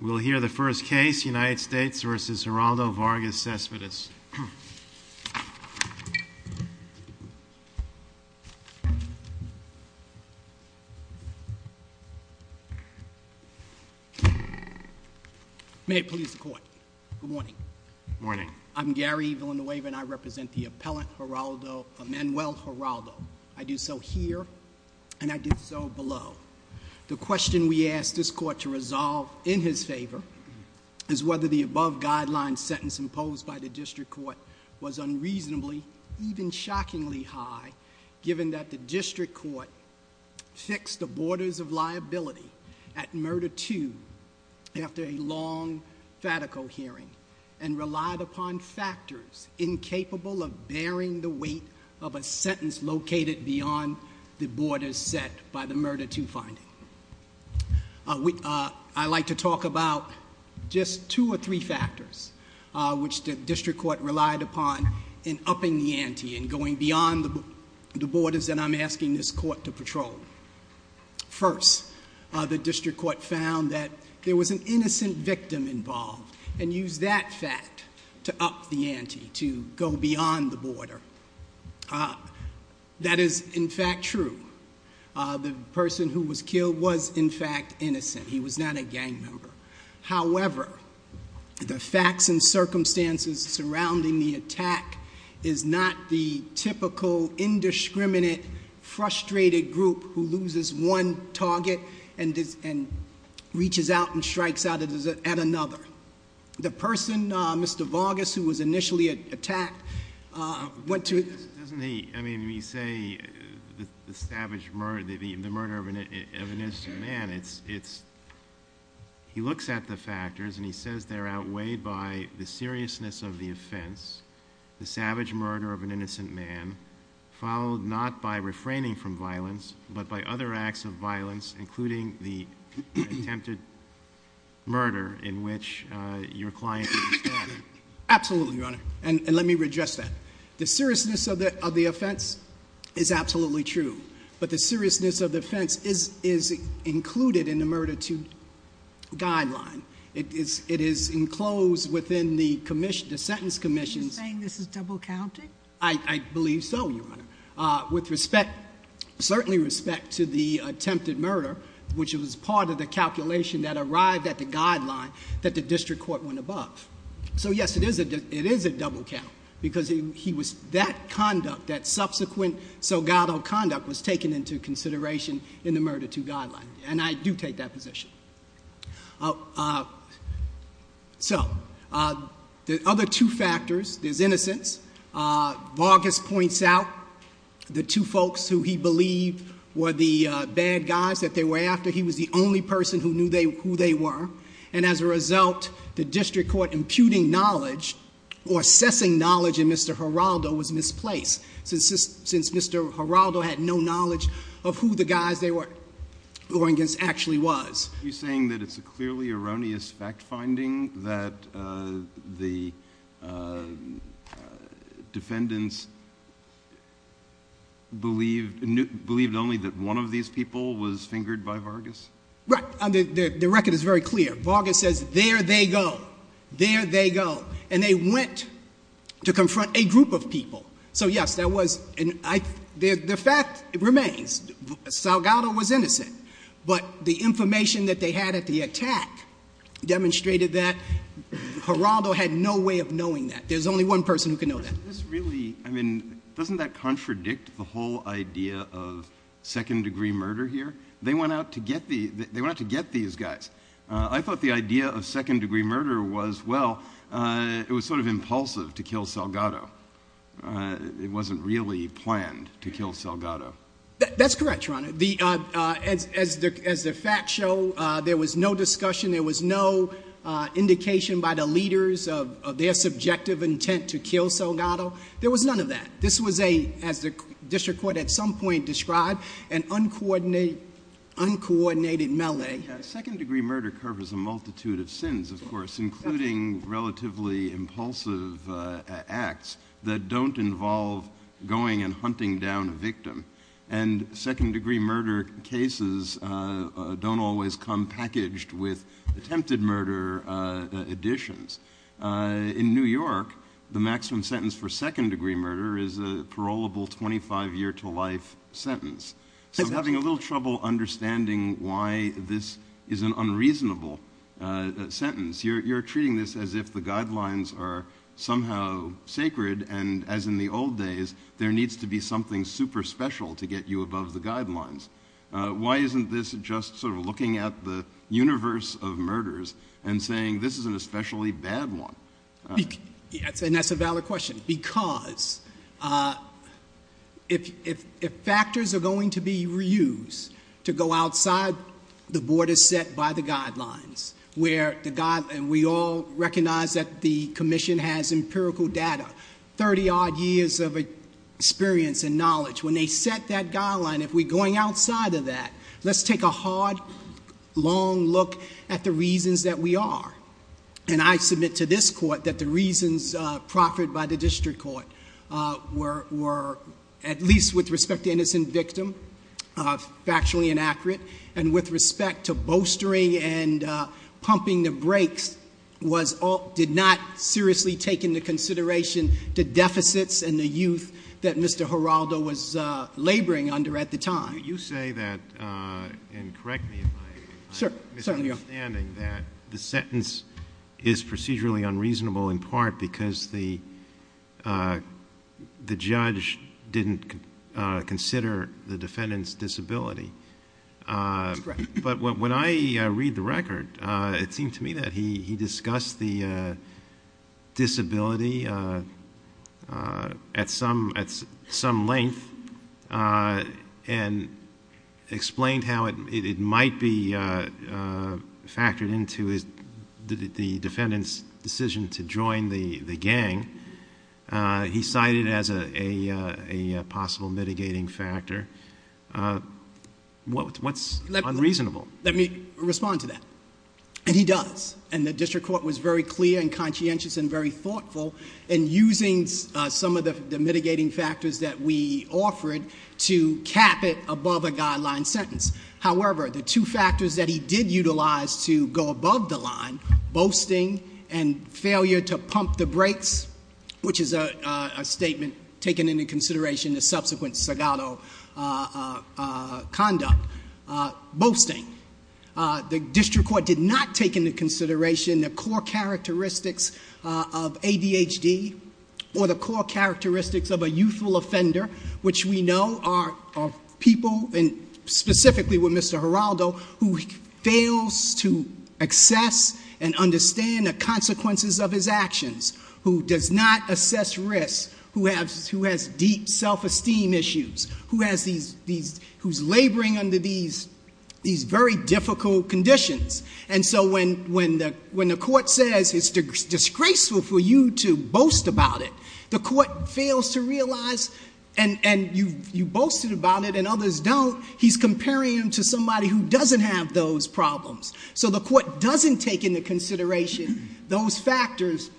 We'll hear the first case, United States v. Geraldo Vargas Céspedes. May it please the court. Good morning. Morning. I'm Gary Villanueva and I represent the appellant, Geraldo, Emanuel Geraldo. I do so here and I do so below. The question we ask this court to resolve in his favor is whether the above guideline sentence imposed by the district court was unreasonably, even shockingly high, given that the district court fixed the borders of liability at murder two after a long fatico hearing and relied upon factors incapable of bearing the weight of a sentence located beyond the borders set by the murder two finding. I'd like to talk about just two or three factors which the district court relied upon in upping the ante and going beyond the borders that I'm asking this court to patrol. First, the district court found that there was an innocent victim involved and used that fact to up the ante, to go beyond the border. That is, in fact, true. The person who was killed was, in fact, innocent. He was not a gang member. However, the facts and circumstances surrounding the attack is not the typical indiscriminate, frustrated group who loses one target and reaches out and strikes out at another. The person, Mr. Vargas, who was initially attacked, went to... Doesn't he, I mean, when you say the savage murder, the murder of an innocent man, it's... He looks at the factors and he says they're outweighed by the seriousness of the offense, the savage murder of an innocent man, followed not by refraining from violence but by other acts of violence, including the attempted murder in which your client was stabbed. Absolutely, Your Honor, and let me address that. The seriousness of the offense is absolutely true, but the seriousness of the offense is included in the murder to guideline. It is enclosed within the sentence commission's... Are you saying this is double-counted? I believe so, Your Honor, with respect... certainly respect to the attempted murder, which was part of the calculation that arrived at the guideline that the district court went above. So, yes, it is a double-count because he was... That conduct, that subsequent soggato conduct was taken into consideration in the murder to guideline, and I do take that position. So, the other two factors, there's innocence. Vargas points out the two folks who he believed were the bad guys that they were after. He was the only person who knew who they were, and as a result, the district court imputing knowledge or assessing knowledge in Mr. Geraldo was misplaced since Mr. Geraldo had no knowledge of who the guys they were going against actually was. Are you saying that it's a clearly erroneous fact-finding that the defendants believed only that one of these people was fingered by Vargas? Right. The record is very clear. Vargas says, there they go, there they go, and they went to confront a group of people. So, yes, that was... The fact remains, soggato was innocent, but the information that they had at the attack demonstrated that Geraldo had no way of knowing that. There's only one person who could know that. Doesn't that contradict the whole idea of second-degree murder here? They went out to get these guys. I thought the idea of second-degree murder was, well, it was sort of impulsive to kill soggato. That's correct, Your Honor. As the facts show, there was no discussion, there was no indication by the leaders of their subjective intent to kill soggato. There was none of that. This was a, as the district court at some point described, an uncoordinated melee. Second-degree murder covers a multitude of sins, of course, including relatively impulsive acts that don't involve going and hunting down a victim. And second-degree murder cases don't always come packaged with attempted murder additions. In New York, the maximum sentence for second-degree murder is a parolable 25-year-to-life sentence. So I'm having a little trouble understanding why this is an unreasonable sentence. You're treating this as if the guidelines are somehow sacred, and as in the old days, there needs to be something super special to get you above the guidelines. Why isn't this just sort of looking at the universe of murders and saying this is an especially bad one? Yes, and that's a valid question, because if factors are going to be reused to go outside the borders set by the guidelines, and we all recognize that the commission has empirical data, 30-odd years of experience and knowledge. When they set that guideline, if we're going outside of that, let's take a hard, long look at the reasons that we are. And I submit to this court that the reasons proffered by the district court were at least with respect to innocent victim factually inaccurate and with respect to bolstering and pumping the brakes did not seriously take into consideration the deficits and the youth that Mr. Giraldo was laboring under at the time. You say that, and correct me if I'm misunderstanding, that the sentence is procedurally unreasonable in part because the judge didn't consider the defendant's disability. That's correct. But when I read the record, it seemed to me that he discussed the disability at some length and explained how it might be factored into the defendant's decision to join the gang. He cited it as a possible mitigating factor. What's unreasonable? Let me respond to that. And he does. And the district court was very clear and conscientious and very thoughtful in using some of the mitigating factors that we offered to cap it above a guideline sentence. However, the two factors that he did utilize to go above the line, bolstering and failure to pump the brakes, which is a statement taken into consideration in the subsequent Sagado conduct. Bolstering. The district court did not take into consideration the core characteristics of ADHD or the core characteristics of a youthful offender, which we know are people, and specifically with Mr. Geraldo, who fails to access and understand the consequences of his actions, who does not assess risks, who has deep self-esteem issues, who's laboring under these very difficult conditions. And so when the court says it's disgraceful for you to boast about it, the court fails to realize, and you boasted about it and others don't, he's comparing him to somebody who doesn't have those problems. So the court doesn't take into consideration those factors,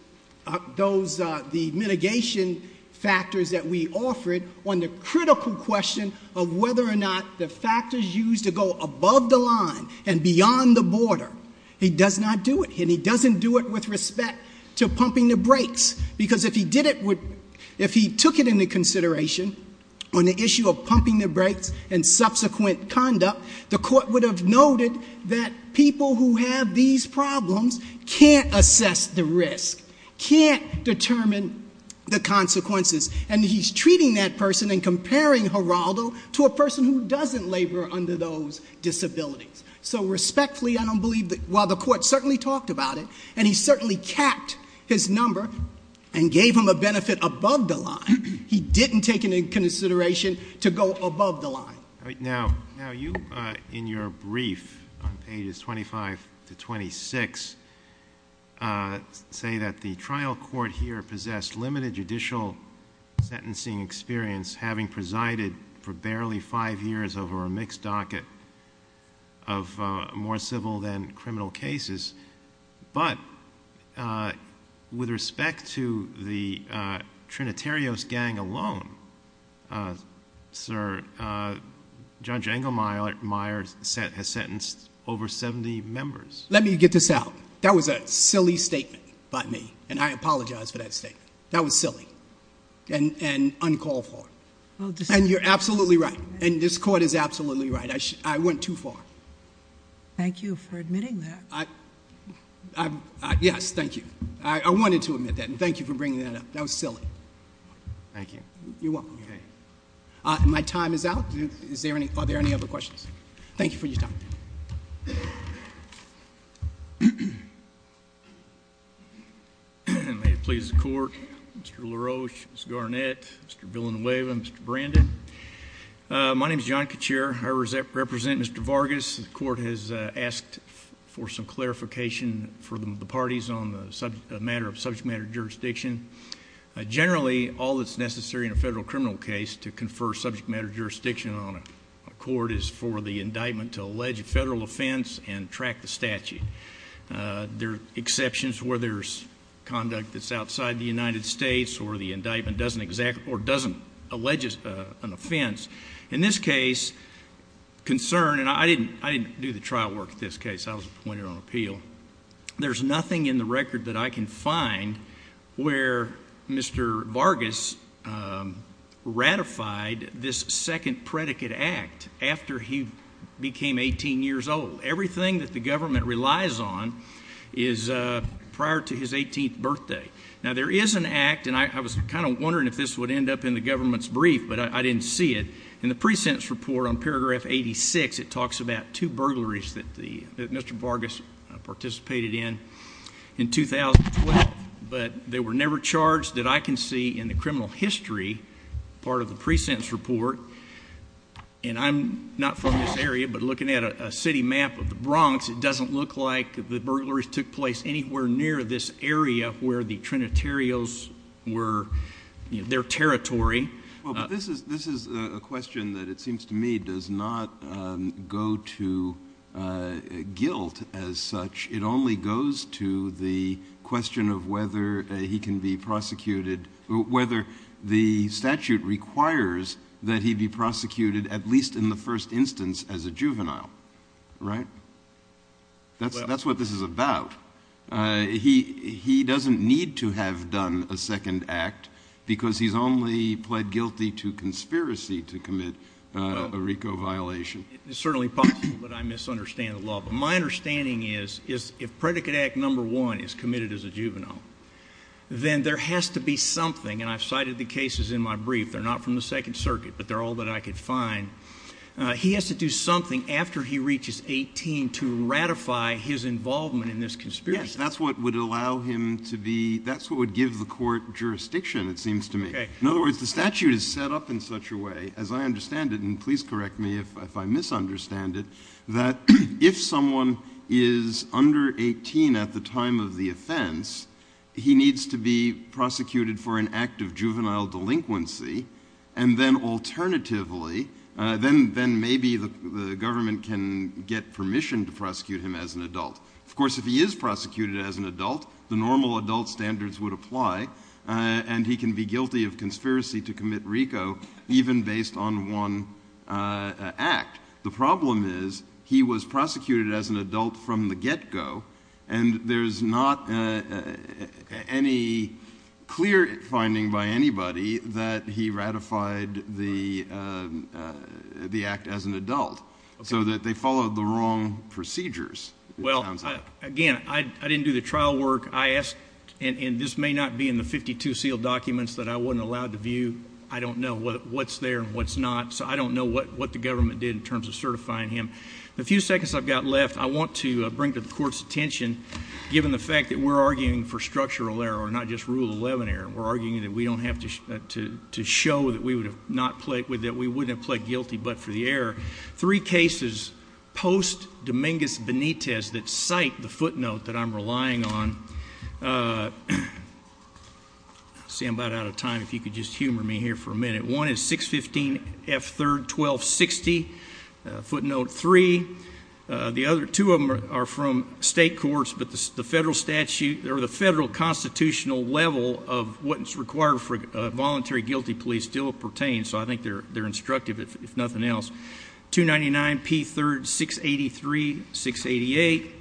the mitigation factors that we offered on the critical question of whether or not the factors used to go above the line and beyond the border. He does not do it. And he doesn't do it with respect to pumping the brakes, because if he took it into consideration on the issue of pumping the brakes and subsequent conduct, the court would have noted that people who have these problems can't assess the risk, can't determine the consequences, and he's treating that person and comparing Geraldo to a person who doesn't labor under those disabilities. So respectfully, I don't believe that while the court certainly talked about it and he certainly kept his number and gave him a benefit above the line, he didn't take it into consideration to go above the line. Now you, in your brief on pages 25 to 26, say that the trial court here possessed limited judicial sentencing experience, having presided for barely five years over a mixed docket of more civil than criminal cases, but with respect to the Trinitarios gang alone, Sir, Judge Engelmeyer has sentenced over 70 members. Let me get this out. That was a silly statement by me, and I apologize for that statement. That was silly and uncalled for. And you're absolutely right, and this court is absolutely right. I went too far. Thank you for admitting that. Yes, thank you. I wanted to admit that, and thank you for bringing that up. That was silly. Thank you. You're welcome. My time is out. Are there any other questions? Thank you for your time. May it please the Court. Mr. LaRoche, Ms. Garnett, Mr. Villanueva, Mr. Brandon. My name is John Cachere. I represent Mr. Vargas. The Court has asked for some clarification for the parties on the matter of subject matter jurisdiction. Generally, all that's necessary in a federal criminal case to confer subject matter jurisdiction on a court is for the indictment to allege a federal offense and track the statute. There are exceptions where there's conduct that's outside the United States or the indictment doesn't allege an offense. In this case, concern, and I didn't do the trial work in this case. I was appointed on appeal. There's nothing in the record that I can find where Mr. Vargas ratified this second predicate act after he became 18 years old. Everything that the government relies on is prior to his 18th birthday. Now, there is an act, and I was kind of wondering if this would end up in the government's brief, but I didn't see it. In the pre-sentence report on paragraph 86, it talks about two burglaries that Mr. Vargas participated in in 2012, but they were never charged that I can see in the criminal history part of the pre-sentence report. And I'm not from this area, but looking at a city map of the Bronx, it doesn't look like the burglaries took place anywhere near this area where the Trinitarios were their territory. Well, this is a question that it seems to me does not go to guilt as such. It only goes to the question of whether he can be prosecuted, whether the statute requires that he be prosecuted at least in the first instance as a juvenile, right? That's what this is about. He doesn't need to have done a second act because he's only pled guilty to conspiracy to commit a RICO violation. It's certainly possible that I misunderstand the law, but my understanding is if Predicate Act No. 1 is committed as a juvenile, then there has to be something, and I've cited the cases in my brief. They're not from the Second Circuit, but they're all that I could find. He has to do something after he reaches 18 to ratify his involvement in this conspiracy. Yes, that's what would give the court jurisdiction, it seems to me. In other words, the statute is set up in such a way, as I understand it, and please correct me if I misunderstand it, that if someone is under 18 at the time of the offense, he needs to be prosecuted for an act of juvenile delinquency, and then alternatively, then maybe the government can get permission to prosecute him as an adult. Of course, if he is prosecuted as an adult, the normal adult standards would apply, and he can be guilty of conspiracy to commit RICO even based on one act. The problem is he was prosecuted as an adult from the get-go, and there's not any clear finding by anybody that he ratified the act as an adult, so that they followed the wrong procedures, it sounds like. Again, I didn't do the trial work. I asked, and this may not be in the 52 sealed documents that I wasn't allowed to view. I don't know what's there and what's not, so I don't know what the government did in terms of certifying him. The few seconds I've got left, I want to bring to the Court's attention, given the fact that we're arguing for structural error, not just Rule 11 error. We're arguing that we don't have to show that we wouldn't have pled guilty but for the error. Three cases post-Dominguez-Benitez that cite the footnote that I'm relying on. I see I'm about out of time. If you could just humor me here for a minute. One is 615 F. 3rd, 1260, footnote 3. The other two of them are from state courts, but the federal constitutional level of what's required for voluntary guilty plea still pertains, so I think they're instructive, if nothing else. 299 P. 3rd, 683, 688.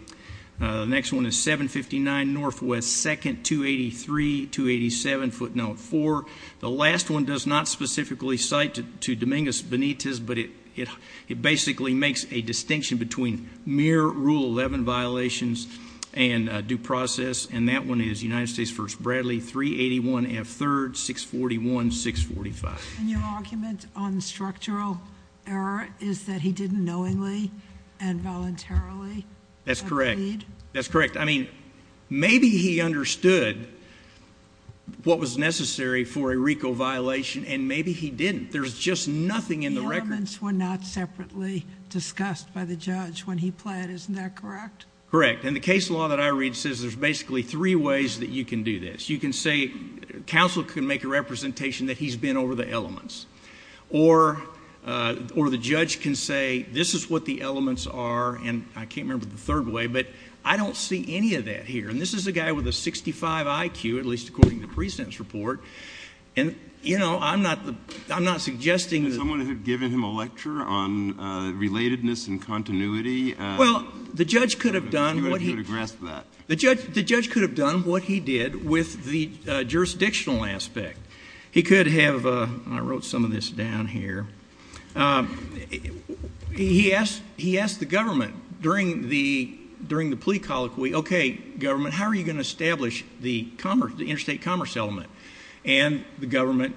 The next one is 759 N. W. 2nd, 283, 287, footnote 4. The last one does not specifically cite to Dominguez-Benitez, but it basically makes a distinction between mere Rule 11 violations and due process, and that one is United States v. Bradley, 381 F. 3rd, 641, 645. And your argument on structural error is that he did it knowingly and voluntarily? That's correct. That's correct. I mean, maybe he understood what was necessary for a RICO violation, and maybe he didn't. There's just nothing in the record. The elements were not separately discussed by the judge when he pled, isn't that correct? Correct, and the case law that I read says there's basically three ways that you can do this. You can say counsel can make a representation that he's been over the elements, or the judge can say this is what the elements are, and I can't remember the third way, but I don't see any of that here. And this is a guy with a 65 IQ, at least according to the precinct's report. And, you know, I'm not suggesting that. Could someone have given him a lecture on relatedness and continuity? Well, the judge could have done what he did with the jurisdictional aspect. He could have, and I wrote some of this down here, he asked the government during the plea colloquy, okay, government, how are you going to establish the interstate commerce element? And the government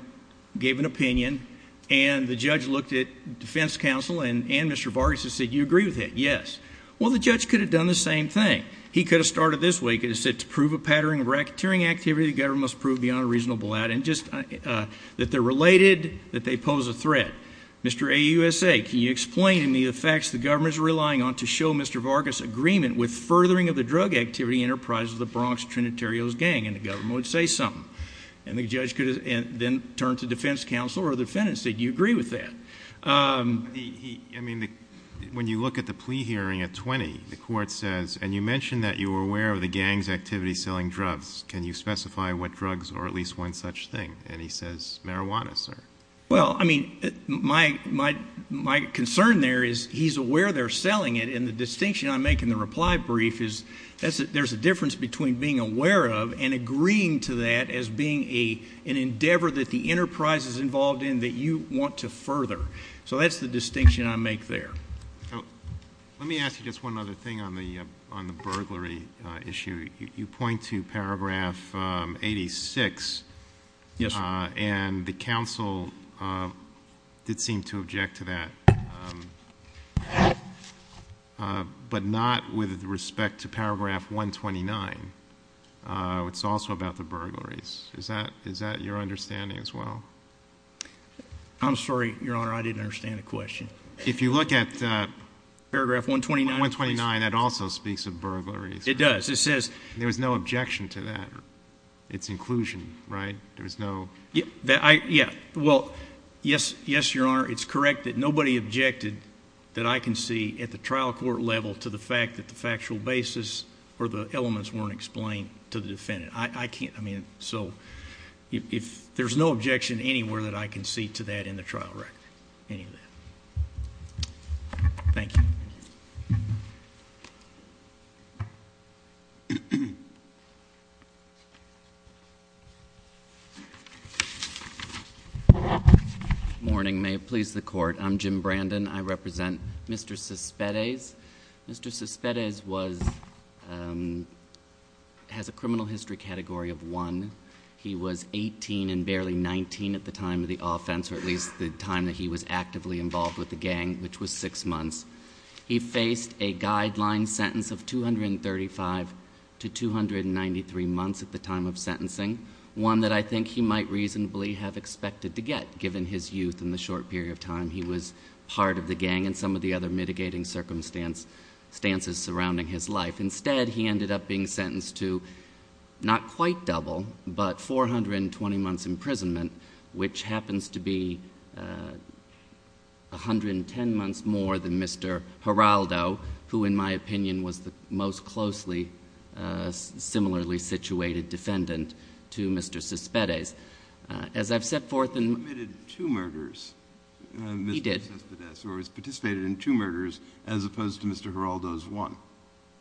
gave an opinion, and the judge looked at defense counsel and Mr. Vargas and said, do you agree with it? Yes. Well, the judge could have done the same thing. He could have started this way. He could have said to prove a pattern of racketeering activity, the government must prove beyond a reasonable doubt, that they're related, that they pose a threat. Mr. AUSA, can you explain to me the facts the government is relying on to show Mr. Vargas' agreement with furthering of the drug activity enterprise of the Bronx Trinitarios gang? And the government would say something. And the judge could then turn to defense counsel or the defendant and say, do you agree with that? I mean, when you look at the plea hearing at 20, the court says, and you mentioned that you were aware of the gang's activity selling drugs. Can you specify what drugs or at least one such thing? And he says, marijuana, sir. Well, I mean, my concern there is he's aware they're selling it, and the distinction I make in the reply brief is there's a difference between being aware of and agreeing to that as being an endeavor that the enterprise is involved in that you want to further. So that's the distinction I make there. Let me ask you just one other thing on the burglary issue. You point to paragraph 86, and the counsel did seem to object to that, but not with respect to paragraph 129. It's also about the burglaries. Is that your understanding as well? I'm sorry, Your Honor, I didn't understand the question. If you look at paragraph 129, that also speaks of burglaries. It does. There was no objection to that. It's inclusion, right? There was no... Yes, Your Honor, it's correct that nobody objected that I can see at the trial court level to the fact that the factual basis or the elements weren't explained to the defendant. So there's no objection anywhere that I can see to that in the trial record, any of that. Thank you. Good morning. May it please the Court. I'm Jim Brandon. I represent Mr. Cespedes. Mr. Cespedes has a criminal history category of 1. He was 18 and barely 19 at the time of the offense, or at least the time that he was actively involved with the gang, which was six months. He faced a guideline sentence of 235 to 293 months at the time of sentencing, one that I think he might reasonably have expected to get, given his youth and the short period of time he was part of the gang and some of the other mitigating circumstances surrounding his life. Instead, he ended up being sentenced to not quite double, but 420 months imprisonment, which happens to be 110 months more than Mr. Giraldo, who in my opinion was the most closely similarly situated defendant to Mr. Cespedes. As I've set forth in... He committed two murders. He did. Mr. Cespedes participated in two murders as opposed to Mr. Giraldo's one.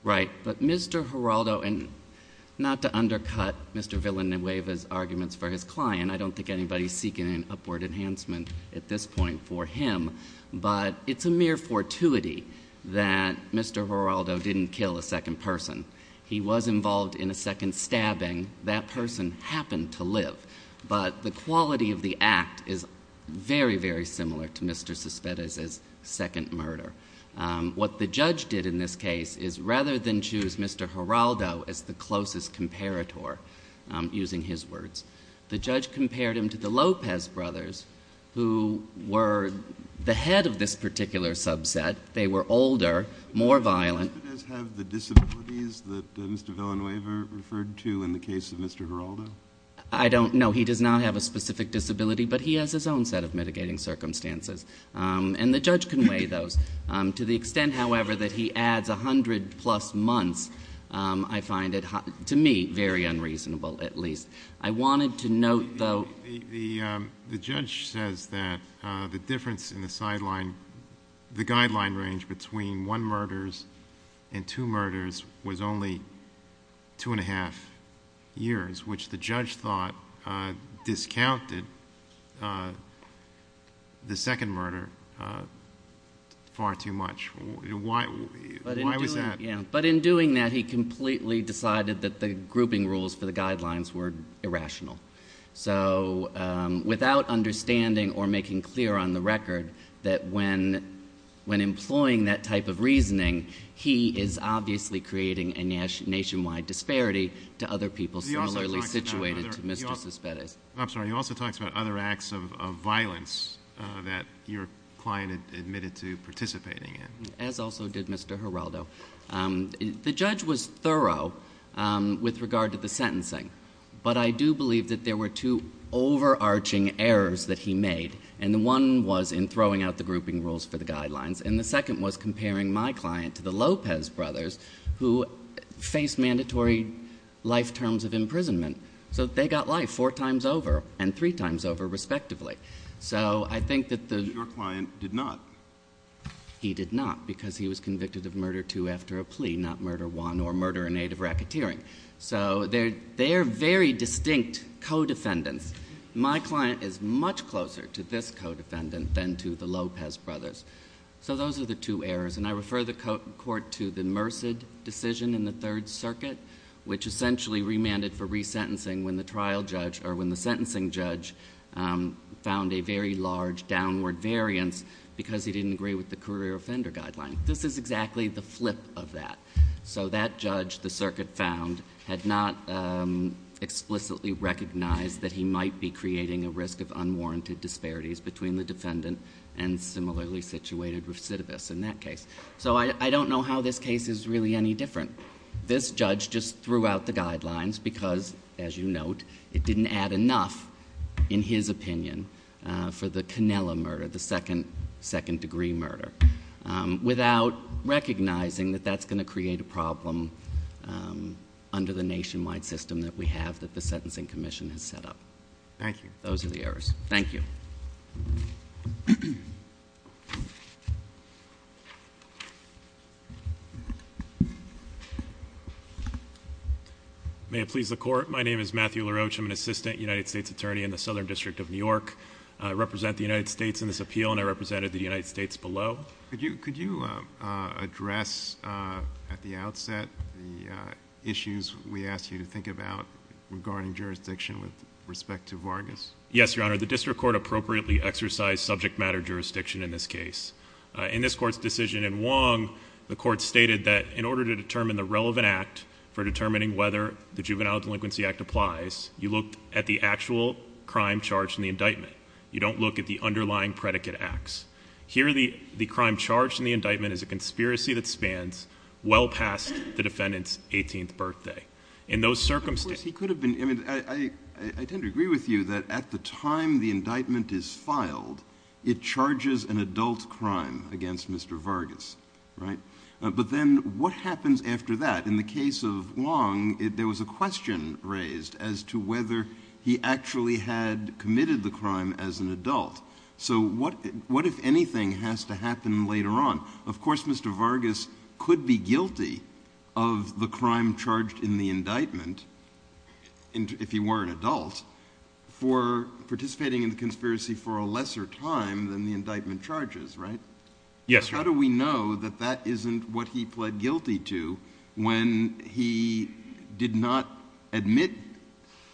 Right. But Mr. Giraldo... And not to undercut Mr. Villanueva's arguments for his client, I don't think anybody is seeking an upward enhancement at this point for him, but it's a mere fortuity that Mr. Giraldo didn't kill a second person. He was involved in a second stabbing. That person happened to live. But the quality of the act is very, very similar to Mr. Cespedes's second murder. What the judge did in this case is rather than choose Mr. Giraldo as the closest comparator, using his words, the judge compared him to the Lopez brothers, who were the head of this particular subset. They were older, more violent. Does Mr. Cespedes have the disabilities that Mr. Villanueva referred to in the case of Mr. Giraldo? I don't know. He does not have a specific disability, but he has his own set of mitigating circumstances. And the judge can weigh those. To the extent, however, that he adds 100-plus months, I find it, to me, very unreasonable, at least. I wanted to note, though... The judge says that the difference in the guideline range between one murder and two murders was only two and a half years, which the judge thought discounted the second murder far too much. Why was that? But in doing that, he completely decided that the grouping rules for the guidelines were irrational. So without understanding or making clear on the record that when employing that type of reasoning, he is obviously creating a nationwide disparity to other people similarly situated to Mr. Cespedes. I'm sorry. He also talks about other acts of violence that your client admitted to participating in. As also did Mr. Giraldo. The judge was thorough with regard to the sentencing. But I do believe that there were two overarching errors that he made. And one was in throwing out the grouping rules for the guidelines. And the second was comparing my client to the Lopez brothers, who faced mandatory life terms of imprisonment. So they got life four times over and three times over, respectively. So I think that the... But your client did not. He did not, because he was convicted of murder two after a plea, not murder one or murder in aid of racketeering. So they are very distinct co-defendants. My client is much closer to this co-defendant than to the Lopez brothers. So those are the two errors. And I refer the court to the Merced decision in the Third Circuit, which essentially remanded for resentencing when the sentencing judge found a very large downward variance because he didn't agree with the career offender guideline. This is exactly the flip of that. So that judge, the circuit found, had not explicitly recognized that he might be creating a risk of unwarranted disparities between the defendant and similarly situated recidivists in that case. So I don't know how this case is really any different. This judge just threw out the guidelines because, as you note, it didn't add enough, in his opinion, for the Canela murder, the second-degree murder, without recognizing that that's going to create a problem under the nationwide system that we have that the Sentencing Commission has set up. Thank you. Those are the errors. Thank you. May it please the Court. My name is Matthew LaRoche. I'm an assistant United States attorney in the Southern District of New York. I represent the United States in this appeal, and I represented the United States below. Could you address at the outset the issues we asked you to think about regarding jurisdiction with respect to Vargas? Yes, Your Honor. The district court appropriately exercised subject matter jurisdiction in this case. In this Court's decision in Wong, the Court stated that in order to determine the relevant act for determining whether the Juvenile Delinquency Act applies, you look at the actual crime charged in the indictment. You don't look at the underlying predicate acts. Here, the crime charged in the indictment is a conspiracy that spans well past the defendant's 18th birthday. I tend to agree with you that at the time the indictment is filed, it charges an adult crime against Mr. Vargas, right? But then what happens after that? In the case of Wong, there was a question raised as to whether he actually had committed the crime as an adult. So what, if anything, has to happen later on? Now, of course Mr. Vargas could be guilty of the crime charged in the indictment, if he were an adult, for participating in the conspiracy for a lesser time than the indictment charges, right? Yes, Your Honor. How do we know that that isn't what he pled guilty to when he did not admit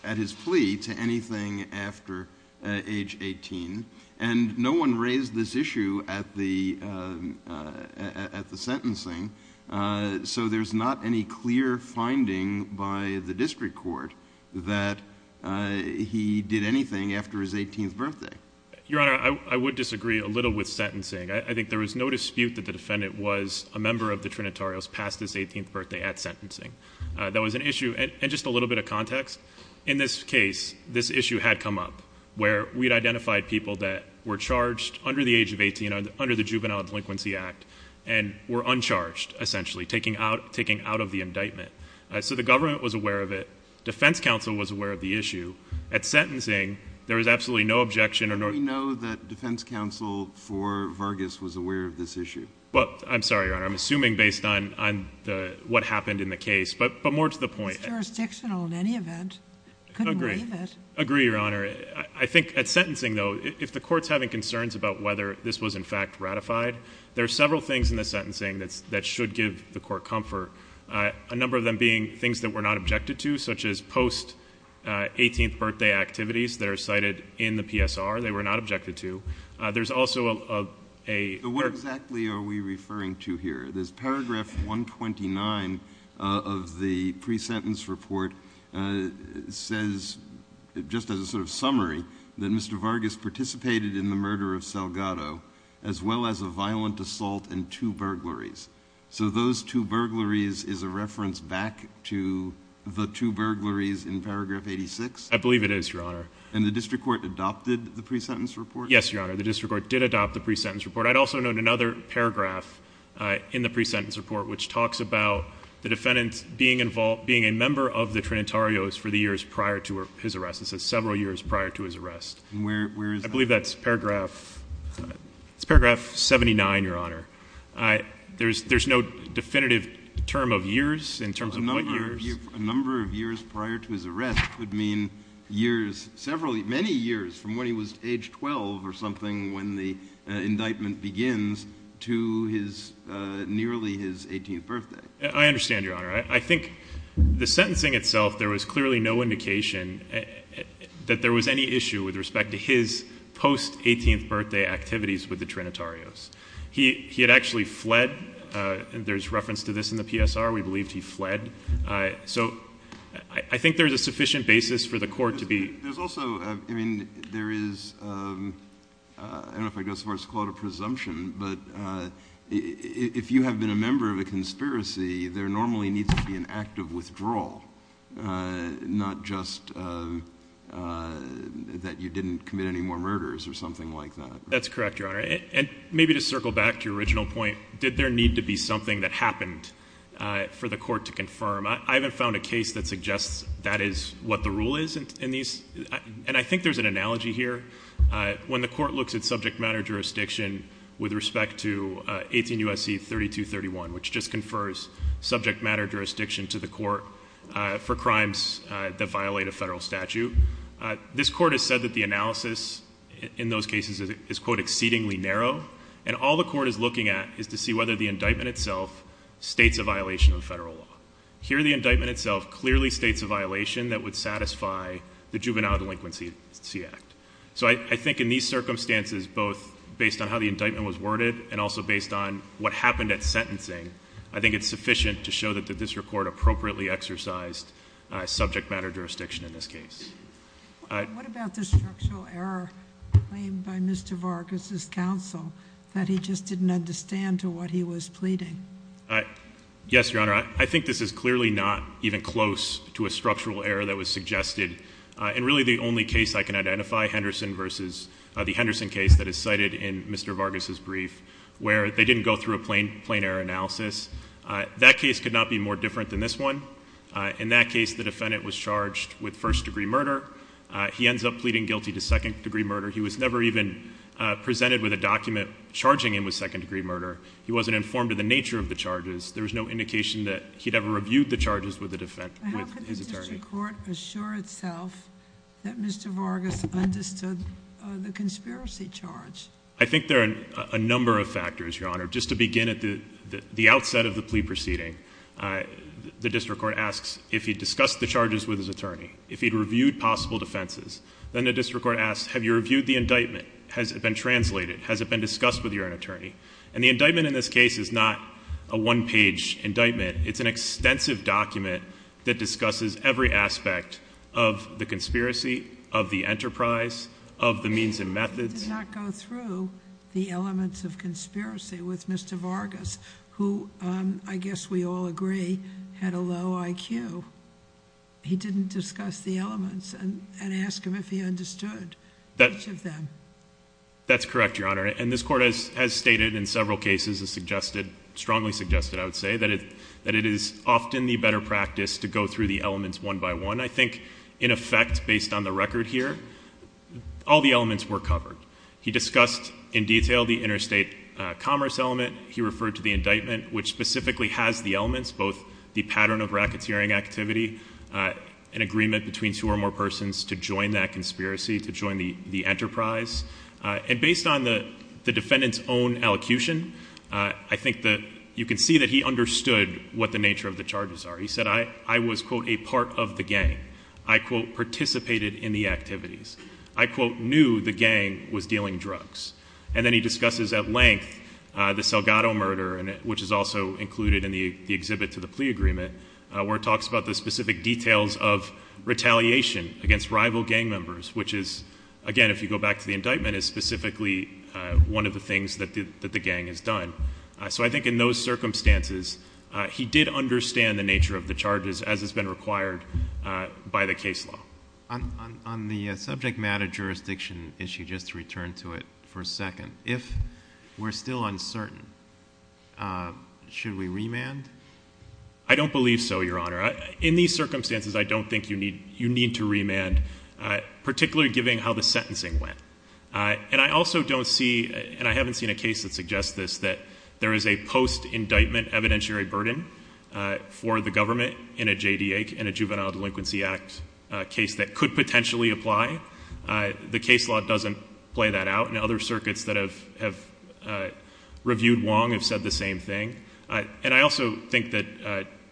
at his plea to anything after age 18? And no one raised this issue at the sentencing, so there's not any clear finding by the district court that he did anything after his 18th birthday. Your Honor, I would disagree a little with sentencing. I think there was no dispute that the defendant was a member of the Trinitarios past his 18th birthday at sentencing. That was an issue, and just a little bit of context, in this case, this issue had come up, where we had identified people that were charged under the age of 18, under the Juvenile Delinquency Act, and were uncharged, essentially, taking out of the indictment. So the government was aware of it. Defense counsel was aware of the issue. At sentencing, there was absolutely no objection. How do we know that defense counsel for Vargas was aware of this issue? I'm sorry, Your Honor. I'm assuming based on what happened in the case, but more to the point. It's jurisdictional in any event. I agree, Your Honor. I think at sentencing, though, if the court's having concerns about whether this was, in fact, ratified, there are several things in the sentencing that should give the court comfort, a number of them being things that were not objected to, such as post-18th birthday activities that are cited in the PSR. They were not objected to. There's also a— What exactly are we referring to here? There's paragraph 129 of the pre-sentence report says, just as a sort of summary, that Mr. Vargas participated in the murder of Salgado as well as a violent assault and two burglaries. So those two burglaries is a reference back to the two burglaries in paragraph 86? I believe it is, Your Honor. And the district court adopted the pre-sentence report? Yes, Your Honor. The district court did adopt the pre-sentence report. I'd also note another paragraph in the pre-sentence report, which talks about the defendant being a member of the Trinitarios for the years prior to his arrest. It says several years prior to his arrest. And where is that? I believe that's paragraph 79, Your Honor. There's no definitive term of years in terms of what years? A number of years prior to his arrest would mean years, several—many years from when he was age 12 or something when the indictment begins to his—nearly his 18th birthday. I understand, Your Honor. I think the sentencing itself, there was clearly no indication that there was any issue with respect to his post-18th birthday activities with the Trinitarios. He had actually fled. There's reference to this in the PSR. We believed he fled. So I think there's a sufficient basis for the court to be— There's also—I mean, there is—I don't know if I'd go so far as to call it a presumption, but if you have been a member of a conspiracy, there normally needs to be an act of withdrawal, not just that you didn't commit any more murders or something like that. That's correct, Your Honor. And maybe to circle back to your original point, did there need to be something that happened for the court to confirm? I haven't found a case that suggests that is what the rule is in these. And I think there's an analogy here. When the court looks at subject matter jurisdiction with respect to 18 U.S.C. 3231, which just confers subject matter jurisdiction to the court for crimes that violate a federal statute, this court has said that the analysis in those cases is, quote, exceedingly narrow, and all the court is looking at is to see whether the indictment itself states a violation of federal law. Here, the indictment itself clearly states a violation that would satisfy the Juvenile Delinquency Act. So I think in these circumstances, both based on how the indictment was worded and also based on what happened at sentencing, I think it's sufficient to show that this court appropriately exercised subject matter jurisdiction in this case. What about the structural error claimed by Mr. Vargas' counsel, that he just didn't understand to what he was pleading? Yes, Your Honor. I think this is clearly not even close to a structural error that was suggested. And really the only case I can identify, Henderson versus the Henderson case that is cited in Mr. Vargas' brief, where they didn't go through a plain error analysis, that case could not be more different than this one. In that case, the defendant was charged with first degree murder. He ends up pleading guilty to second degree murder. He was never even presented with a document charging him with second degree murder. He wasn't informed of the nature of the charges. There was no indication that he'd ever reviewed the charges with his attorney. How could the district court assure itself that Mr. Vargas understood the conspiracy charge? I think there are a number of factors, Your Honor. Just to begin at the outset of the plea proceeding, the district court asks if he'd discussed the charges with his attorney, if he'd reviewed possible defenses. Then the district court asks, have you reviewed the indictment? Has it been translated? Has it been discussed with your own attorney? And the indictment in this case is not a one page indictment. It's an extensive document that discusses every aspect of the conspiracy, of the enterprise, of the means and methods. He did not go through the elements of conspiracy with Mr. Vargas, who I guess we all agree had a low IQ. He didn't discuss the elements and ask him if he understood each of them. That's correct, Your Honor. And this court has stated in several cases and strongly suggested, I would say, that it is often the better practice to go through the elements one by one. And I think in effect, based on the record here, all the elements were covered. He discussed in detail the interstate commerce element. He referred to the indictment, which specifically has the elements, both the pattern of racketeering activity, an agreement between two or more persons to join that conspiracy, to join the enterprise. And based on the defendant's own elocution, I think that you can see that he understood what the nature of the charges are. He said, I was, quote, a part of the gang. I, quote, participated in the activities. I, quote, knew the gang was dealing drugs. And then he discusses at length the Salgado murder, which is also included in the exhibit to the plea agreement, where it talks about the specific details of retaliation against rival gang members, which is, again, if you go back to the indictment, is specifically one of the things that the gang has done. So I think in those circumstances, he did understand the nature of the charges as has been required by the case law. On the subject matter jurisdiction issue, just to return to it for a second, if we're still uncertain, should we remand? I don't believe so, Your Honor. In these circumstances, I don't think you need to remand, particularly given how the sentencing went. And I also don't see, and I haven't seen a case that suggests this, that there is a post-indictment evidentiary burden for the government in a JDA, in a Juvenile Delinquency Act, a case that could potentially apply. The case law doesn't play that out, and other circuits that have reviewed Wong have said the same thing. And I also think that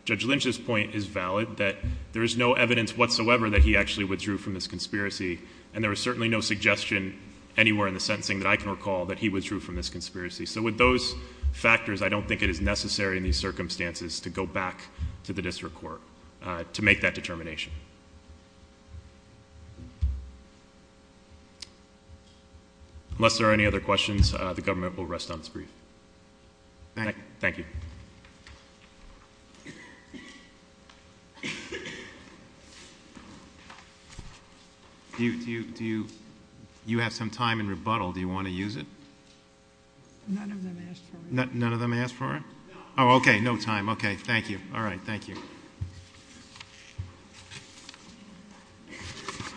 Judge Lynch's point is valid, that there is no evidence whatsoever that he actually withdrew from this conspiracy, and there is certainly no suggestion anywhere in the sentencing that I can recall that he withdrew from this conspiracy. So with those factors, I don't think it is necessary in these circumstances to go back to the district court to make that determination. Unless there are any other questions, the government will rest on its brief. Thank you. Do you have some time in rebuttal? Do you want to use it? None of them asked for it. None of them asked for it? No. Oh, okay, no time. Okay, thank you. All right, thank you.